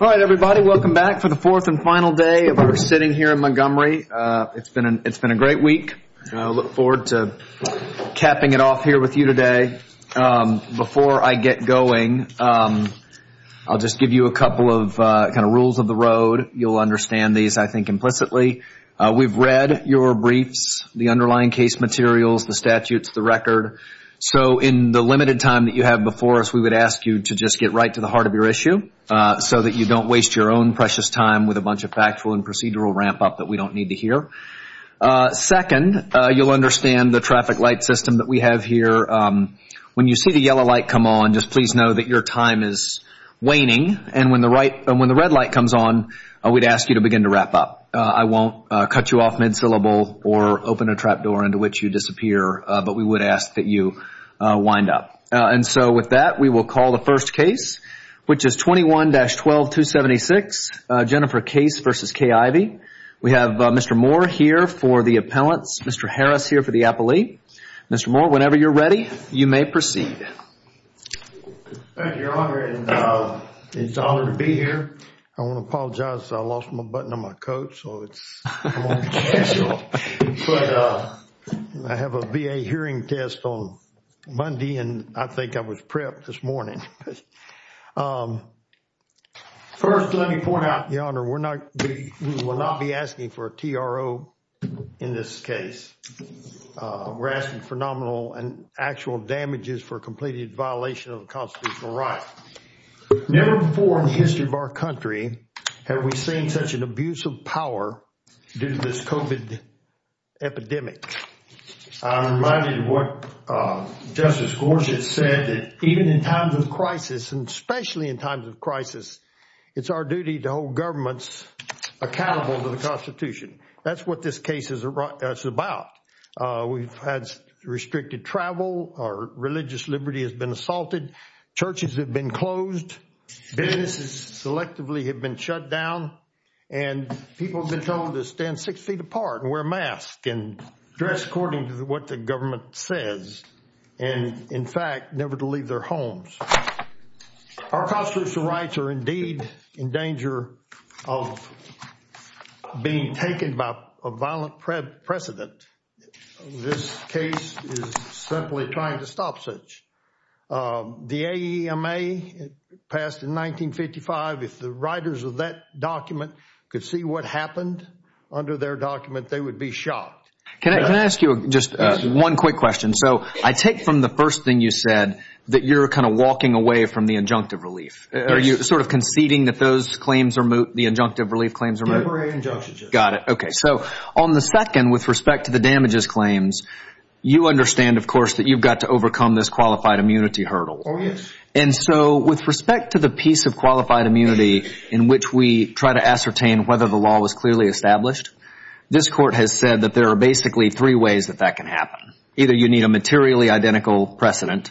Alright everybody, welcome back for the fourth and final day of our sitting here in Montgomery. It's been a great week. I look forward to capping it off here with you today. Before I get going, I'll just give you a couple of rules of the road. You'll understand these I think implicitly. We've read your briefs, the underlying case materials, the statutes, the record. So in the limited time that you have before us, we would ask you to just get right to the heart of your issue so that you don't waste your own precious time with a bunch of factual and procedural ramp up that we don't need to hear. Second, you'll understand the traffic light system that we have here. When you see the yellow light come on, just please know that your time is waning. And when the red light comes on, we'd ask you to begin to wrap up. I won't cut you off mid-syllable or open a trap door into which you disappear, but we would ask that you wind up. And so with that, we will call the first case, which is 21-12-276, Jennifer Case v. Kay Ivey. We have Mr. Moore here for the appellants, Mr. Harris here for the appellee. Mr. Moore, whenever you're ready, you may proceed. Thank you, Your Honor. It's an honor to be here. I want to apologize. I lost my button on my coat, so I'm going to be casual. I have a VA hearing test on Monday, and I think I was prepped this morning. First, let me point out, Your Honor, we will not be asking for a TRO in this case. We're asking for nominal and actual damages for a completed violation of a constitutional right. Never before in the history of our country have we seen such an abuse of power due to this COVID epidemic. I'm reminded of what Justice Gorsuch said that even in times of crisis, and especially in times of crisis, it's our duty to hold governments accountable to the Constitution. That's what this case is about. We've had churches have been closed, businesses selectively have been shut down, and people have been told to stand six feet apart and wear a mask and dress according to what the government says, and in fact, never to leave their homes. Our constitutional rights are indeed in danger of being taken by a violent precedent. This case is simply trying to stop such. But I think the AEMA passed in 1955, if the writers of that document could see what happened under their document, they would be shocked. Can I ask you just one quick question? I take from the first thing you said that you're kind of walking away from the injunctive relief. Are you sort of conceding that those claims are moot, the injunctive relief claims are moot? They were an injunction, Justice. Got it. On the second, with respect to the damages claims, you understand, of course, that you've got to overcome this qualified immunity hurdle. Oh, yes. And so with respect to the piece of qualified immunity in which we try to ascertain whether the law was clearly established, this court has said that there are basically three ways that that can happen. Either you need a materially identical precedent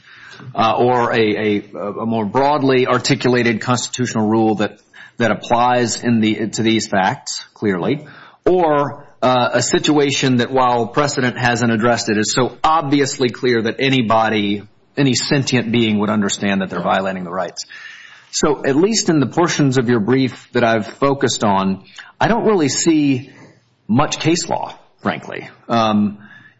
or a more broadly articulated constitutional rule that applies to these facts, clearly, or a situation that while precedent hasn't addressed it, it's so obviously clear that anybody, any sentient being would understand that they're violating the rights. So at least in the portions of your brief that I've focused on, I don't really see much case law, frankly.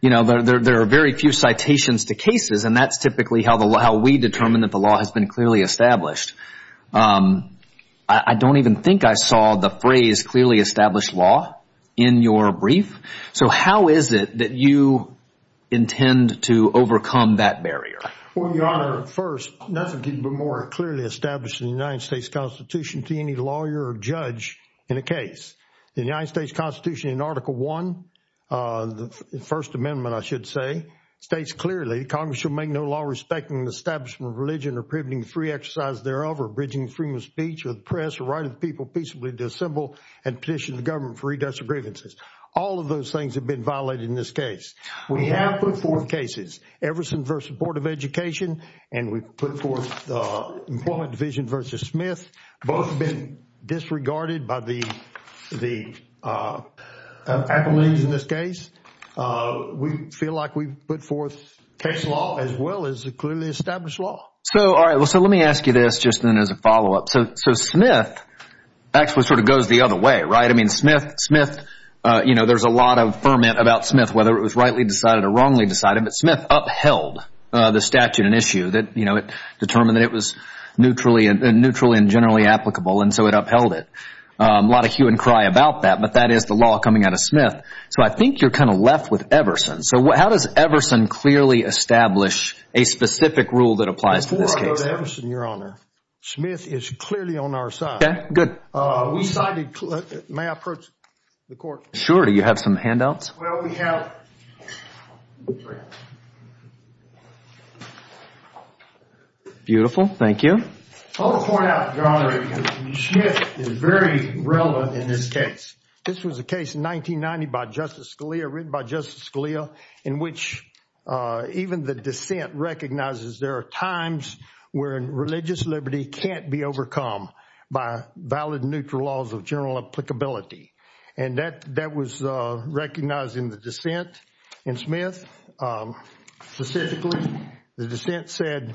You know, there are very few citations to cases, and that's typically how we determine that the law has been clearly established. I don't even think I saw the you intend to overcome that barrier? Well, Your Honor, first, nothing can be more clearly established in the United States Constitution to any lawyer or judge in a case. The United States Constitution in Article I, the First Amendment, I should say, states clearly, Congress shall make no law respecting the establishment of religion or preventing free exercise thereof or abridging the freedom of speech or the press or right of the people peaceably to assemble and petition the government for redress of grievances. All of those things have been violated in this case. We have put forth cases, Everson v. Board of Education, and we've put forth Employment Division v. Smith. Both have been disregarded by the appellees in this case. We feel like we've put forth case law as well as a clearly established law. So, all right. Well, so let me ask you this just then as a follow-up. So Smith actually sort of goes the other way, right? I mean, Smith, you know, there's a lot of ferment about Smith, whether it was rightly decided or wrongly decided, but Smith upheld the statute and issue that, you know, it determined that it was neutrally and generally applicable, and so it upheld it. A lot of hue and cry about that, but that is the law coming out of Smith. So I think you're kind of left with Everson. So how does Everson clearly establish a specific rule that applies to this case? Before I go to Everson, Your Honor, Smith is clearly on our side. Okay, good. We signed it. May I approach the court? Sure. Do you have some handouts? Well, we have... Beautiful. Thank you. I'll point out, Your Honor, that Smith is very relevant in this case. This was a case in 1990 by Justice Scalia, written by Justice Scalia, in which even the dissent recognizes there are times where religious liberty can't be overcome by valid neutral laws of general applicability, and that was recognized in the dissent in Smith. Specifically, the dissent said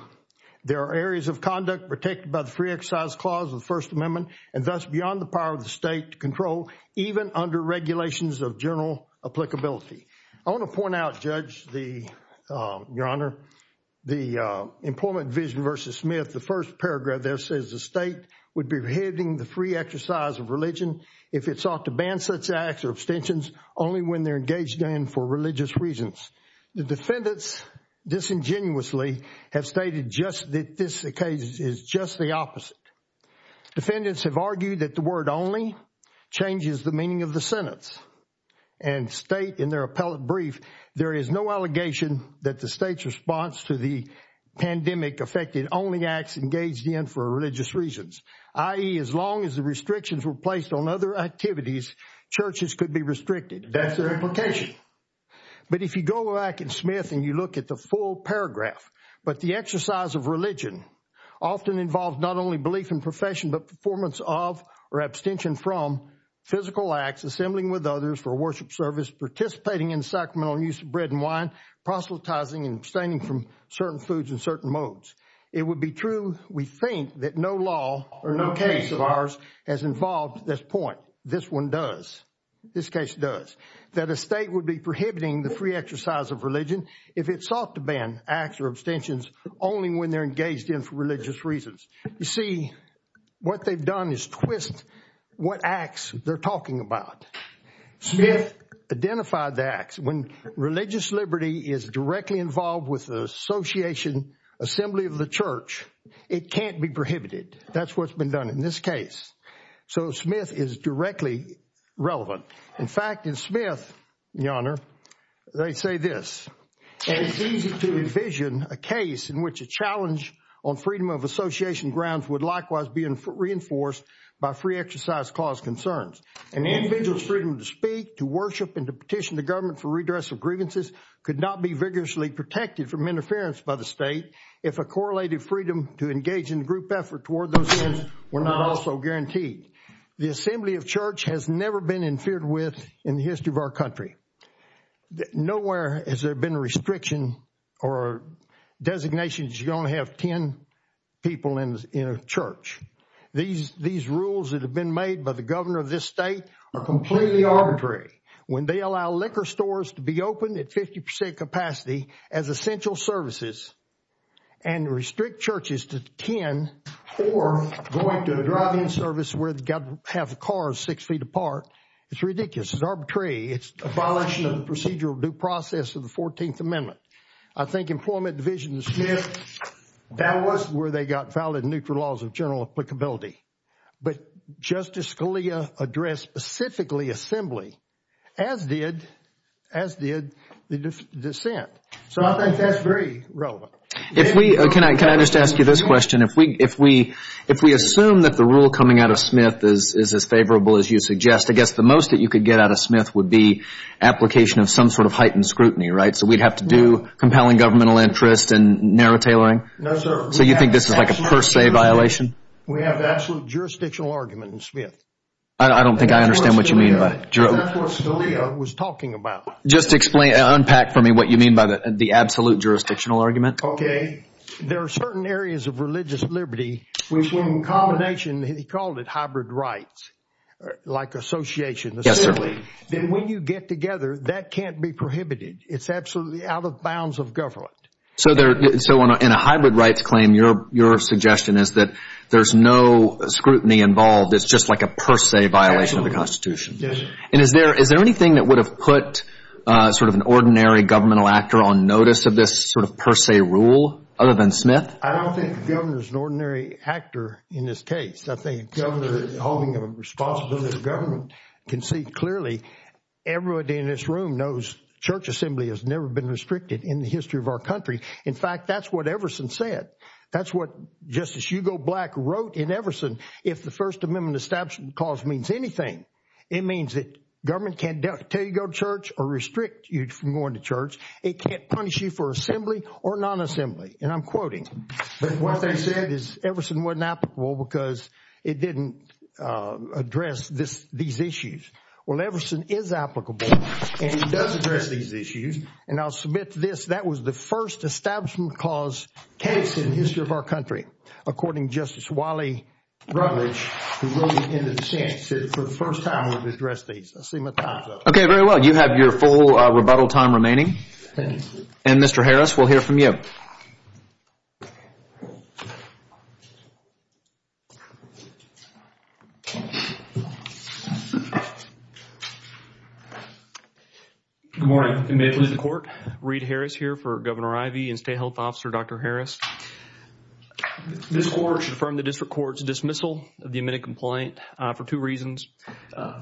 there are areas of conduct protected by the Free Exercise Clause of the First Amendment and thus beyond the power of the State to control, even under regulations of Your Honor, the Employment Division versus Smith, the first paragraph there says the state would be prohibiting the free exercise of religion if it sought to ban such acts or abstentions only when they're engaged in for religious reasons. The defendants disingenuously have stated just that this case is just the opposite. Defendants have argued that the word only changes the meaning of the sentence and state in their appellate brief, there is no allegation that the state's response to the pandemic affected only acts engaged in for religious reasons, i.e. as long as the restrictions were placed on other activities, churches could be restricted. That's their implication. But if you go back in Smith and you look at the full paragraph, but the exercise of religion often involves not only belief and profession, but performance of or abstention from physical acts, assembling with others for worship service, participating in sacramental use of bread and wine, proselytizing and abstaining from certain foods and certain modes. It would be true, we think, that no law or no case of ours has involved this point. This one does. This case does. That a state would be prohibiting the free exercise of religion if it sought to ban acts or abstentions only when they're engaged in for religious reasons. You see, what they've done is twist what acts they're talking about. Smith identified the acts. When religious liberty is directly involved with the association assembly of the church, it can't be prohibited. That's what's been done in this case. So Smith is directly relevant. In fact, in Smith, Your Honor, they say this. It's easy to envision a case in which a challenge on freedom of association grounds would likewise be reinforced by free exercise cause concerns. An individual's freedom to speak, to worship, and to petition the government for redress of grievances could not be vigorously protected from interference by the state if a correlated freedom to engage in group effort toward those ends were not also guaranteed. The assembly of church has never been interfered with in the history of our country. Nowhere has there been a restriction or designation that you These rules that have been made by the governor of this state are completely arbitrary. When they allow liquor stores to be open at 50% capacity as essential services and restrict churches to 10 or going to a driving service where they have the cars six feet apart, it's ridiculous. It's arbitrary. It's a violation of the procedural due process of the 14th Amendment. I think employment division in Smith, that was where they got valid and neutral laws of general applicability. But Justice Scalia addressed specifically assembly, as did the dissent. So I think that's very relevant. Can I just ask you this question? If we assume that the rule coming out of Smith is as favorable as you suggest, I guess the most that you could get out of Smith would be application of some sort of heightened scrutiny, right? So we'd have to do compelling governmental interest and narrow tailoring? No, sir. So you think this is like a per se violation? We have an absolute jurisdictional argument in Smith. I don't think I understand what you mean by that. That's what Scalia was talking about. Just explain, unpack for me what you mean by the absolute jurisdictional argument. Okay. There are certain areas of religious liberty, which in combination, he called it hybrid rights, like association. Then when you get together, that can't be prohibited. It's absolutely out of bounds of government. So in a hybrid rights claim, your suggestion is that there's no scrutiny involved. It's just like a per se violation of the Constitution? Absolutely. Yes, sir. And is there anything that would have put sort of an ordinary governmental actor on notice of this sort of per se rule other than Smith? I don't think the governor is an ordinary actor in this case. I think the governor is holding a responsibility of government. I can see clearly everybody in this room knows In fact, that's what Everson said. That's what Justice Hugo Black wrote in Everson. If the First Amendment establishment clause means anything, it means that government can't tell you go to church or restrict you from going to church. It can't punish you for assembly or non-assembly. And I'm quoting. But what they said is Everson wasn't applicable because it didn't address these issues. Well, Everson is applicable. And he does address these issues. And I'll submit this. That was the first establishment clause case in the history of our country, according to Justice Wally Rutledge, who voted in the dissent for the first time to address these. Okay, very well. You have your full rebuttal time remaining. And Mr. Harris, we'll hear from you. Good morning. Committee, please report. Reed Harris here for Governor Ivey and State Health Officer Dr. Harris. This court should affirm the district court's dismissal of the amended complaint for two reasons.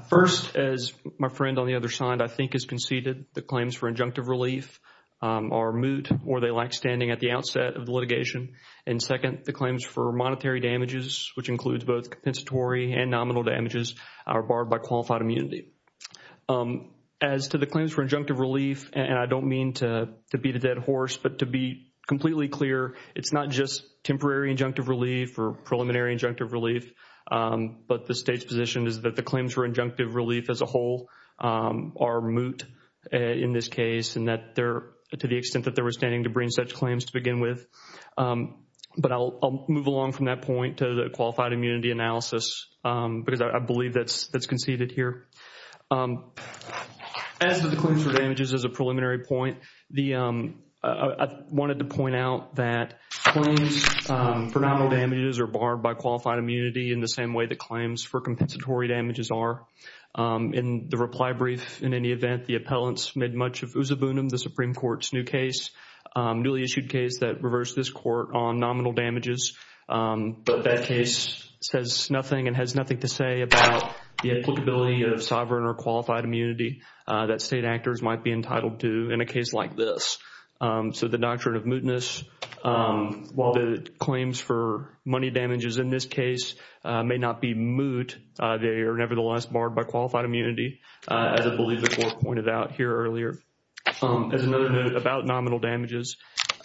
First, as my friend on the other side, I think, has conceded, the claims for injunctive relief are moot or they lack standing at the outset of the litigation. And second, the claims for monetary damages, which includes both compensatory and nominal damages, are barred by qualified immunity. As to the claims for injunctive relief, and I don't mean to beat a dead horse, but to be completely clear, it's not just temporary injunctive relief or preliminary injunctive relief. But the state's position is that the claims for injunctive relief as a whole are moot in this case, and that they're to the extent that they were standing to bring such claims to begin with. But I'll move along from that point to the qualified immunity analysis because I believe that's conceded here. As to the claims for damages as a preliminary point, I wanted to point out that claims for nominal damages are barred by qualified immunity in the same way that claims for compensatory damages are. In the reply brief, in any event, the appellants made much of Usaboonum, the Supreme Court's new case, that reversed this court on nominal damages. But that case says nothing and has nothing to say about the applicability of sovereign or qualified immunity that state actors might be entitled to in a case like this. So the doctrine of mootness, while the claims for money damages in this case may not be moot, they are nevertheless barred by qualified immunity, as I believe the court pointed out here earlier. As another note about nominal damages,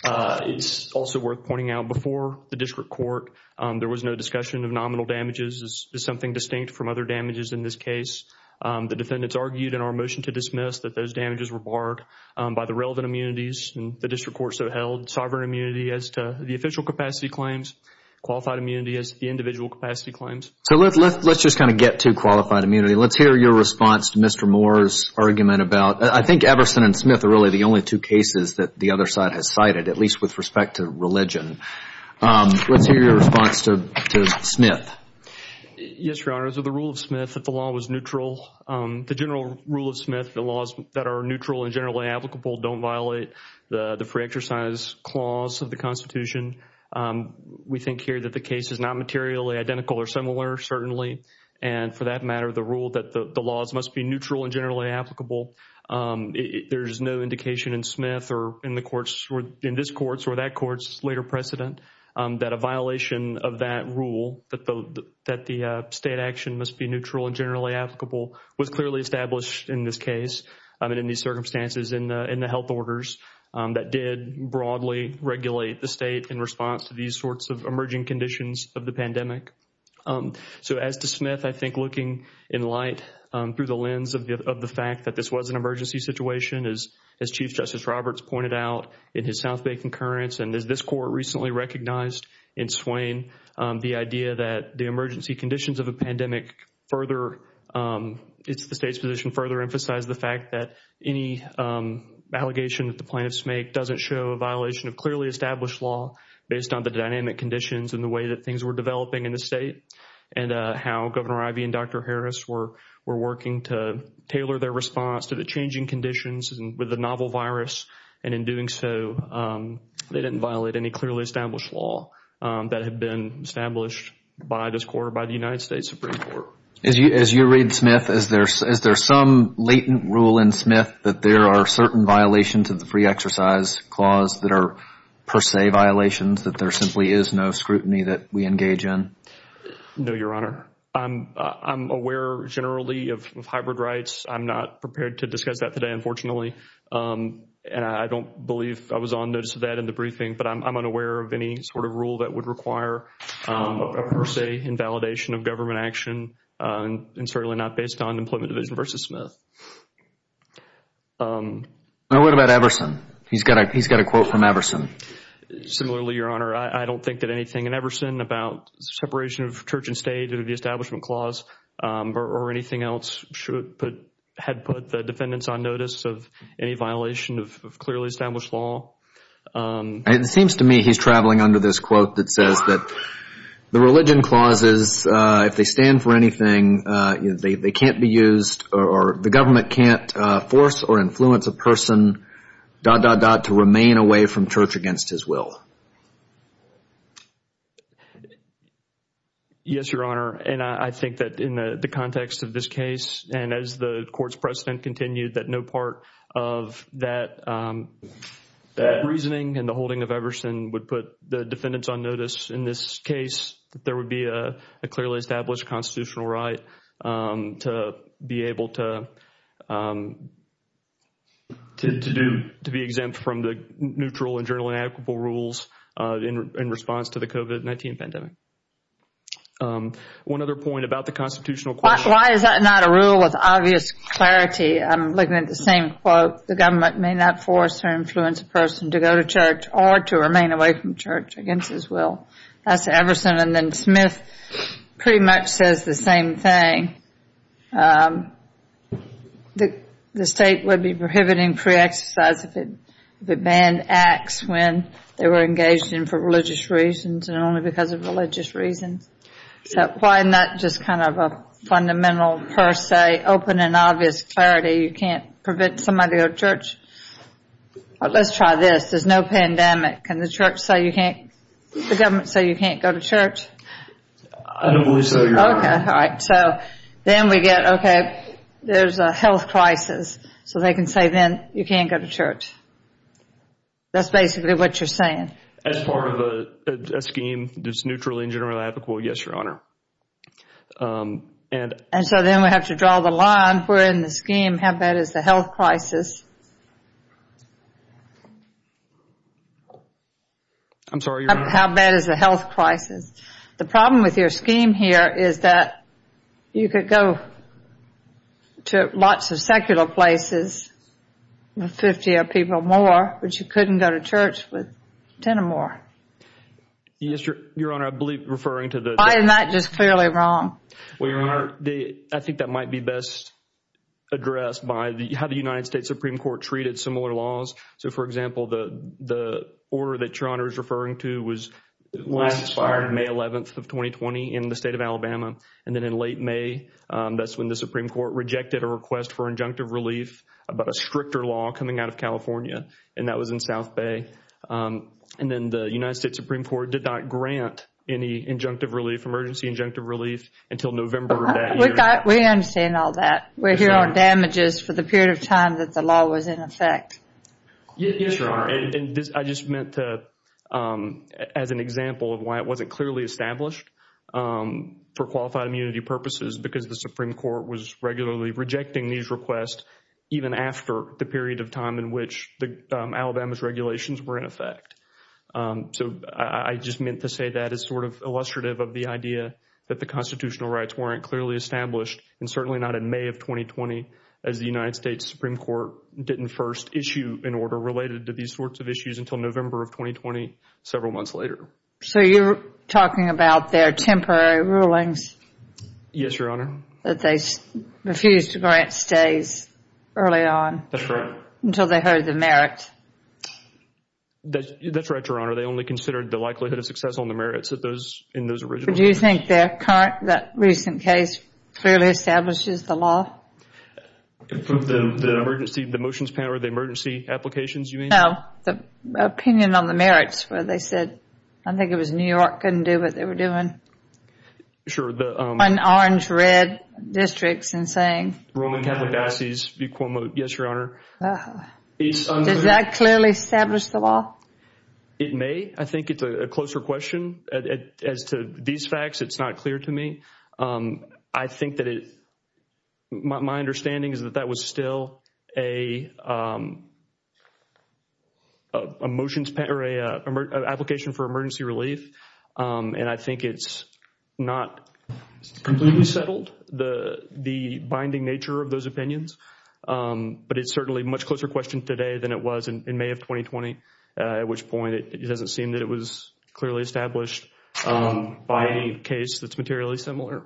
it's also worth pointing out before the district court, there was no discussion of nominal damages as something distinct from other damages in this case. The defendants argued in our motion to dismiss that those damages were barred by the relevant immunities and the district court so held sovereign immunity as to the official capacity claims, qualified immunity as to the individual capacity claims. So let's just kind of get to qualified immunity. Let's hear your response to Mr. Moore's argument about, I think Everson and Smith are really the only two cases that the other side has cited, at least with respect to religion. Let's hear your response to Smith. Yes, Your Honor. So the rule of Smith that the law was neutral, the general rule of Smith, the laws that are neutral and generally applicable don't violate the free exercise clause of the Constitution. We think here that the case is not materially identical or similar, certainly. And for that matter, the rule that the laws must be neutral and generally applicable, there is no indication in Smith or in this court or that court's later precedent that a violation of that rule, that the state action must be neutral and generally applicable, was clearly established in this case and in these circumstances in the health orders that did broadly regulate the state in response to these sorts of emerging conditions of the pandemic. So as to Smith, I think looking in light through the lens of the fact that this was an emergency situation, as Chief Justice Roberts pointed out in his South Bay concurrence, and as this court recently recognized in Swain, the idea that the emergency conditions of a pandemic further, it's the state's position, further emphasize the fact that any allegation that the plaintiffs make doesn't show a violation of clearly established law based on the dynamic conditions and the way that things were developing in the state. And how Governor Ivey and Dr. Harris were working to tailor their response to the changing conditions and with the novel virus. And in doing so, they didn't violate any clearly established law that had been established by this court or by the United States Supreme Court. As you read Smith, is there some latent rule in Smith that there are certain violations of the free exercise clause that are per se violations that there simply is no scrutiny that we engage in? No, Your Honor. I'm aware generally of hybrid rights. I'm not prepared to discuss that today, unfortunately. And I don't believe I was on notice of that in the briefing, but I'm unaware of any sort of rule that would require a per se invalidation of government action and certainly not based on Employment Division v. Smith. What about Everson? He's got a quote from Everson. Similarly, Your Honor, I don't think that anything in Everson about separation of church and state under the Establishment Clause or anything else had put the defendants on notice of any violation of clearly established law. It seems to me he's traveling under this quote that says that the religion clauses, if they stand for anything, they can't be used or the government can't force or influence a person dot, dot, dot, to remain away from church against his will. Yes, Your Honor, and I think that in the context of this case and as the Court's precedent continued that no part of that reasoning and the holding of Everson would put the defendants on notice in this case, that there would be a clearly established constitutional right to be able to do, to be exempt from the neutral and generally adequate rules in response to the COVID-19 pandemic. One other point about the constitutional question. Why is that not a rule with obvious clarity? I'm looking at the same quote. The government may not force or influence a person to go to church or to remain away from church against his will. That's Everson. And then Smith pretty much says the same thing. The state would be prohibiting free exercise if it banned acts when they were engaged in for religious reasons and only because of religious reasons. So why not just kind of a fundamental per se open and obvious clarity? You can't prevent somebody going to church. Let's try this. There's no pandemic. Can the government say you can't go to church? I don't believe so, Your Honor. Okay, all right. So then we get, okay, there's a health crisis. So they can say then you can't go to church. That's basically what you're saying. As part of a scheme that's neutrally and generally adequate, yes, Your Honor. And so then we have to draw the line. If we're in the scheme, how bad is the health crisis? I'm sorry, Your Honor. How bad is the health crisis? The problem with your scheme here is that you could go to lots of secular places with 50 or people more, but you couldn't go to church with 10 or more. Yes, Your Honor, I believe you're referring to the – Why is that just clearly wrong? Well, Your Honor, I think that might be best addressed by how the United States Supreme Court treated similar laws. So, for example, the order that Your Honor is referring to was expired May 11th of 2020 in the state of Alabama. And then in late May, that's when the Supreme Court rejected a request for injunctive relief about a stricter law coming out of California, and that was in South Bay. And then the United States Supreme Court did not grant any injunctive relief, emergency injunctive relief, until November of that year. We understand all that. We're hearing damages for the period of time that the law was in effect. Yes, Your Honor. I just meant to – as an example of why it wasn't clearly established for qualified immunity purposes because the Supreme Court was regularly rejecting these requests even after the period of time in which Alabama's regulations were in effect. So I just meant to say that as sort of illustrative of the idea that the constitutional rights weren't clearly established, and certainly not in May of 2020 as the United States Supreme Court didn't first issue an order related to these sorts of issues until November of 2020, several months later. So you're talking about their temporary rulings? Yes, Your Honor. That they refused to grant stays early on? That's right. Until they heard the merit? That's right, Your Honor. They only considered the likelihood of success on the merits in those original – But do you think their current – that recent case clearly establishes the law? The emergency – the motions panel or the emergency applications, you mean? No. The opinion on the merits where they said, I think it was New York couldn't do what they were doing. Sure, the – On orange-red districts and saying – Roman Catholic Asses v. Cuomo, yes, Your Honor. Does that clearly establish the law? It may. I think it's a closer question. As to these facts, it's not clear to me. I think that it – my understanding is that that was still a motions – or an application for emergency relief. And I think it's not completely settled, the binding nature of those opinions. But it's certainly a much closer question today than it was in May of 2020, at which point it doesn't seem that it was clearly established by a case that's materially similar.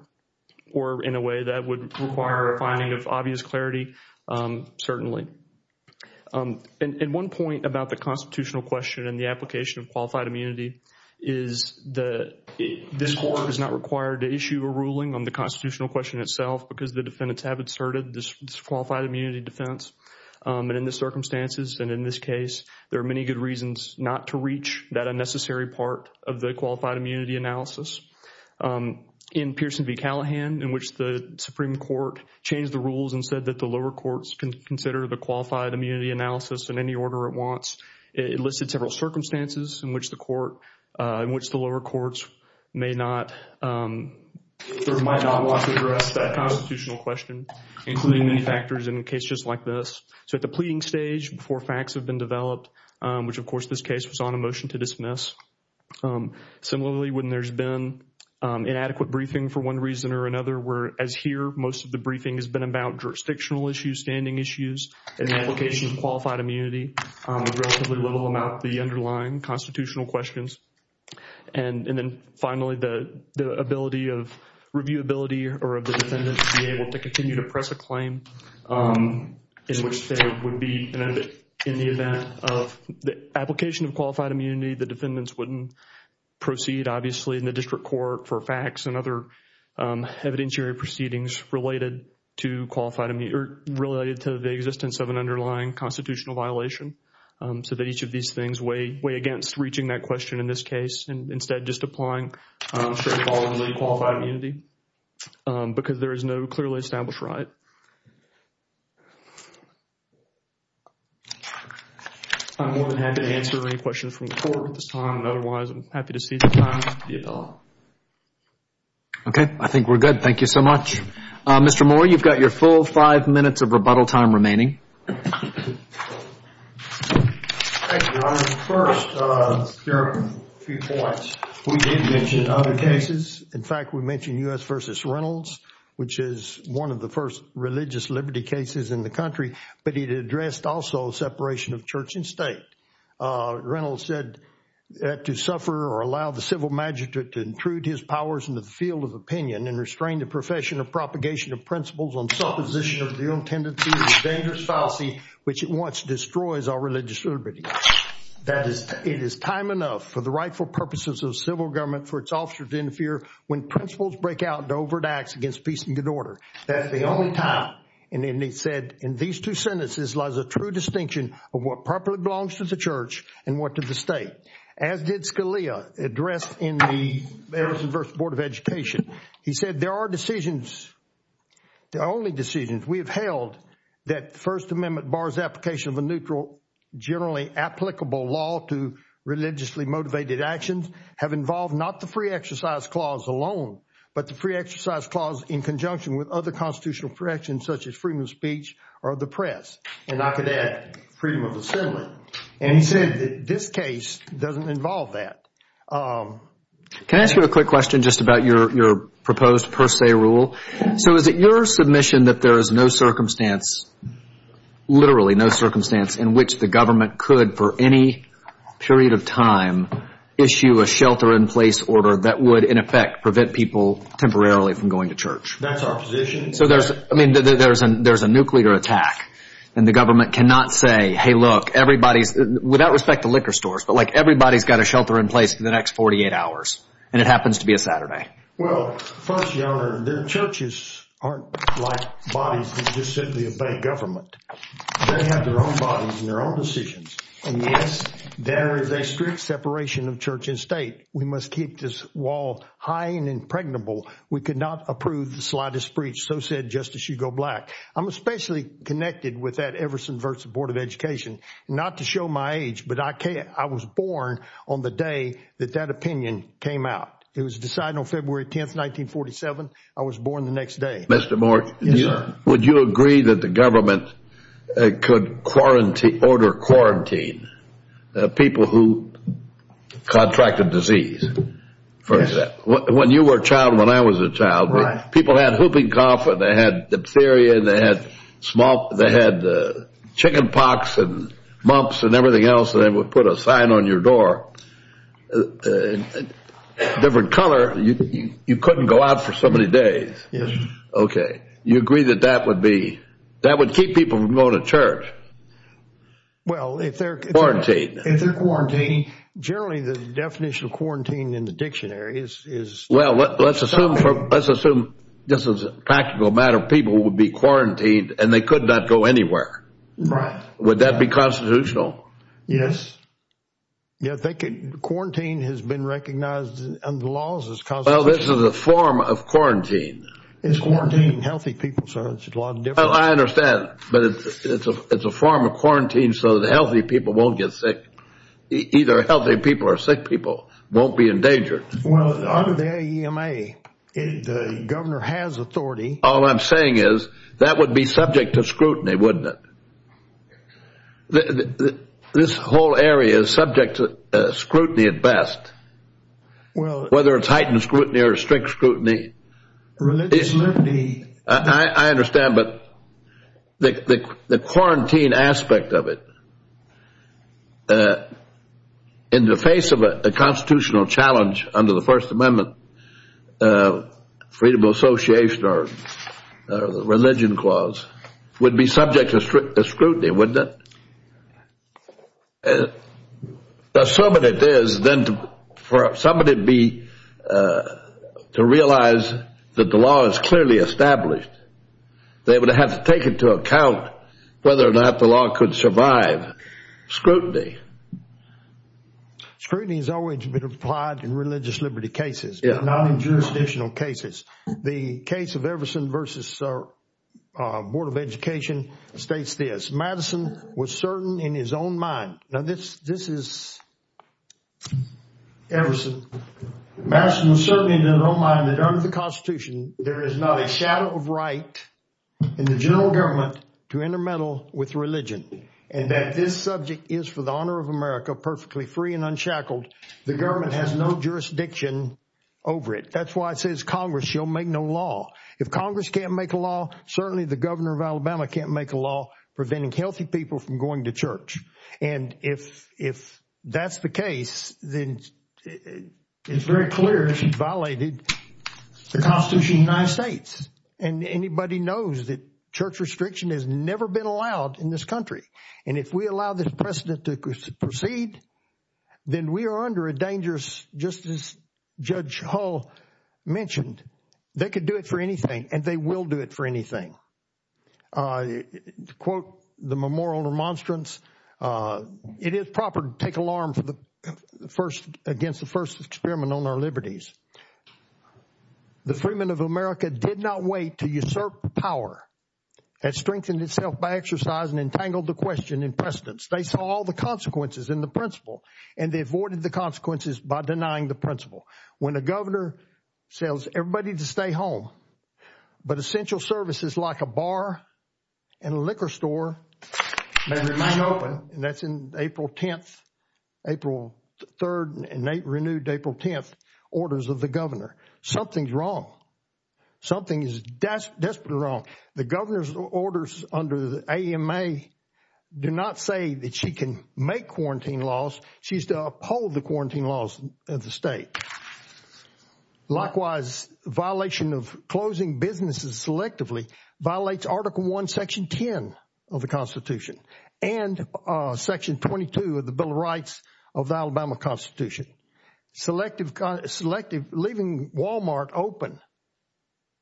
Or in a way that would require a finding of obvious clarity, certainly. And one point about the constitutional question and the application of qualified immunity is that this court is not required to issue a ruling on the constitutional question itself because the defendants have inserted this qualified immunity defense. And in the circumstances and in this case, there are many good reasons not to reach that unnecessary part of the qualified immunity analysis. In Pearson v. Callahan, in which the Supreme Court changed the rules and said that the lower courts can consider the qualified immunity analysis in any order it wants. It listed several circumstances in which the court – in which the lower courts may not – or might not want to address that constitutional question, including many factors in a case just like this. So at the pleading stage, before facts have been developed, which of course this case was on a motion to dismiss. Similarly, when there's been inadequate briefing for one reason or another, where as here, most of the briefing has been about jurisdictional issues, standing issues, and the application of qualified immunity. There's relatively little about the underlying constitutional questions. And then finally, the ability of – reviewability or of the defendants to be able to continue to press a claim in which there would be – in the event of the application of qualified immunity, the defendants wouldn't proceed obviously in the district court for facts and other evidentiary proceedings related to qualified – or related to the existence of an underlying constitutional violation. So that each of these things weigh against reaching that question in this case, and instead just applying straightforwardly qualified immunity because there is no clearly established right. I'm more than happy to answer any questions from the court at this time, and otherwise I'm happy to cede the time to the appellant. Okay. I think we're good. Thank you so much. Mr. Moore, you've got your full five minutes of rebuttal time remaining. Thank you, Your Honor. First, a few points. We did mention other cases. In fact, we mentioned U.S. v. Reynolds, which is one of the first religious liberty cases in the country, but it addressed also separation of church and state. Reynolds said to suffer or allow the civil magistrate to intrude his powers into the field of opinion and restrain the profession of propagation of principles on supposition of the own tendencies and dangerous fallacy, which at once destroys our religious liberty. That is – it is time enough for the rightful purposes of civil government for its officers to interfere when principles break out into overt acts against peace and good order. That's the only time – and then he said, in these two sentences lies a true distinction of what properly belongs to the church and what to the state, as did Scalia addressed in the Edison v. Board of Education. He said there are decisions – the only decisions we have held that the First Amendment bars application of a neutral, generally applicable law to religiously motivated actions have involved not the free exercise clause alone, but the free exercise clause in conjunction with other constitutional protections such as freedom of speech or the press, and I could add freedom of assembly. And he said that this case doesn't involve that. Can I ask you a quick question just about your proposed per se rule? So is it your submission that there is no circumstance, literally no circumstance, in which the government could for any period of time issue a shelter-in-place order that would, in effect, prevent people temporarily from going to church? That's our position. So there's – I mean there's a nuclear attack, and the government cannot say, hey, look, everybody's – without respect to liquor stores, but like everybody's got a shelter-in-place for the next 48 hours, and it happens to be a Saturday. Well, first, your Honor, the churches aren't like bodies that just simply obey government. They have their own bodies and their own decisions, and yes, there is a strict separation of church and state. We must keep this wall high and impregnable. We cannot approve the slightest breach. So said Justice Hugo Black. I'm especially connected with that Everson versus Board of Education, not to show my age, but I was born on the day that that opinion came out. It was decided on February 10, 1947. I was born the next day. Mr. Moore. Yes, sir. Would you agree that the government could order quarantine of people who contracted disease? Yes. When you were a child and when I was a child, people had whooping cough, and they had diphtheria, and they had chicken pox and mumps and everything else, and they would put a sign on your door, different color. You couldn't go out for so many days. Yes. Okay. You agree that that would be – that would keep people from going to church? Well, if they're – Quarantined. If they're quarantined, generally the definition of quarantine in the dictionary is – Well, let's assume, just as a practical matter, people would be quarantined and they could not go anywhere. Right. Would that be constitutional? Yes. Quarantine has been recognized under the laws as constitutional. Well, this is a form of quarantine. It's quarantining healthy people, sir. It's a lot different. Well, I understand, but it's a form of quarantine so that healthy people won't get sick. Either healthy people or sick people won't be endangered. Well, under the AEMA, the governor has authority. All I'm saying is that would be subject to scrutiny, wouldn't it? This whole area is subject to scrutiny at best. Whether it's heightened scrutiny or strict scrutiny. Religious liberty. I understand, but the quarantine aspect of it, in the face of a constitutional challenge under the First Amendment, freedom of association or the religion clause, would be subject to scrutiny, wouldn't it? For somebody to realize that the law is clearly established, they would have to take into account whether or not the law could survive scrutiny. Scrutiny has always been applied in religious liberty cases, but not in jurisdictional cases. The case of Everson v. Board of Education states this. Madison was certain in his own mind. Now, this is Everson. Madison was certain in his own mind that under the Constitution, there is not a shadow of right in the general government to intermeddle with religion. And that this subject is, for the honor of America, perfectly free and unshackled. The government has no jurisdiction over it. That's why it says Congress shall make no law. If Congress can't make a law, certainly the governor of Alabama can't make a law preventing healthy people from going to church. And if that's the case, then it's very clear she violated the Constitution of the United States. And anybody knows that church restriction has never been allowed in this country. And if we allow this precedent to proceed, then we are under a dangerous, just as Judge Hull mentioned, they could do it for anything. And they will do it for anything. To quote the memorial remonstrance, it is proper to take alarm against the first experiment on our liberties. The freemen of America did not wait to usurp power. It strengthened itself by exercise and entangled the question in precedence. They saw all the consequences in the principle, and they avoided the consequences by denying the principle. When a governor tells everybody to stay home, but essential services like a bar and a liquor store may remain open, and that's in April 10th, April 3rd, and they renewed April 10th orders of the governor. Something's wrong. Something is desperately wrong. The governor's orders under the AMA do not say that she can make quarantine laws. She's to uphold the quarantine laws of the state. Likewise, violation of closing businesses selectively violates Article 1, Section 10 of the Constitution and Section 22 of the Bill of Rights of the Alabama Constitution. Selective leaving Walmart open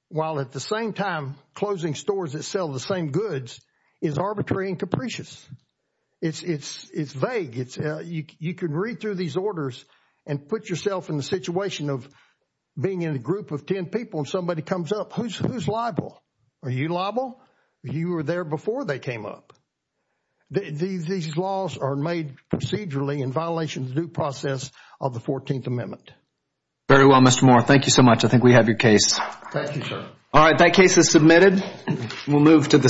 while at the same time closing stores that sell the same goods is arbitrary and capricious. It's vague. You can read through these orders and put yourself in the situation of being in a group of 10 people and somebody comes up. Who's liable? Are you liable? You were there before they came up. These laws are made procedurally in violation of the due process of the 14th Amendment. Very well, Mr. Moore. Thank you so much. I think we have your case. All right. That case is submitted. We'll move to the second.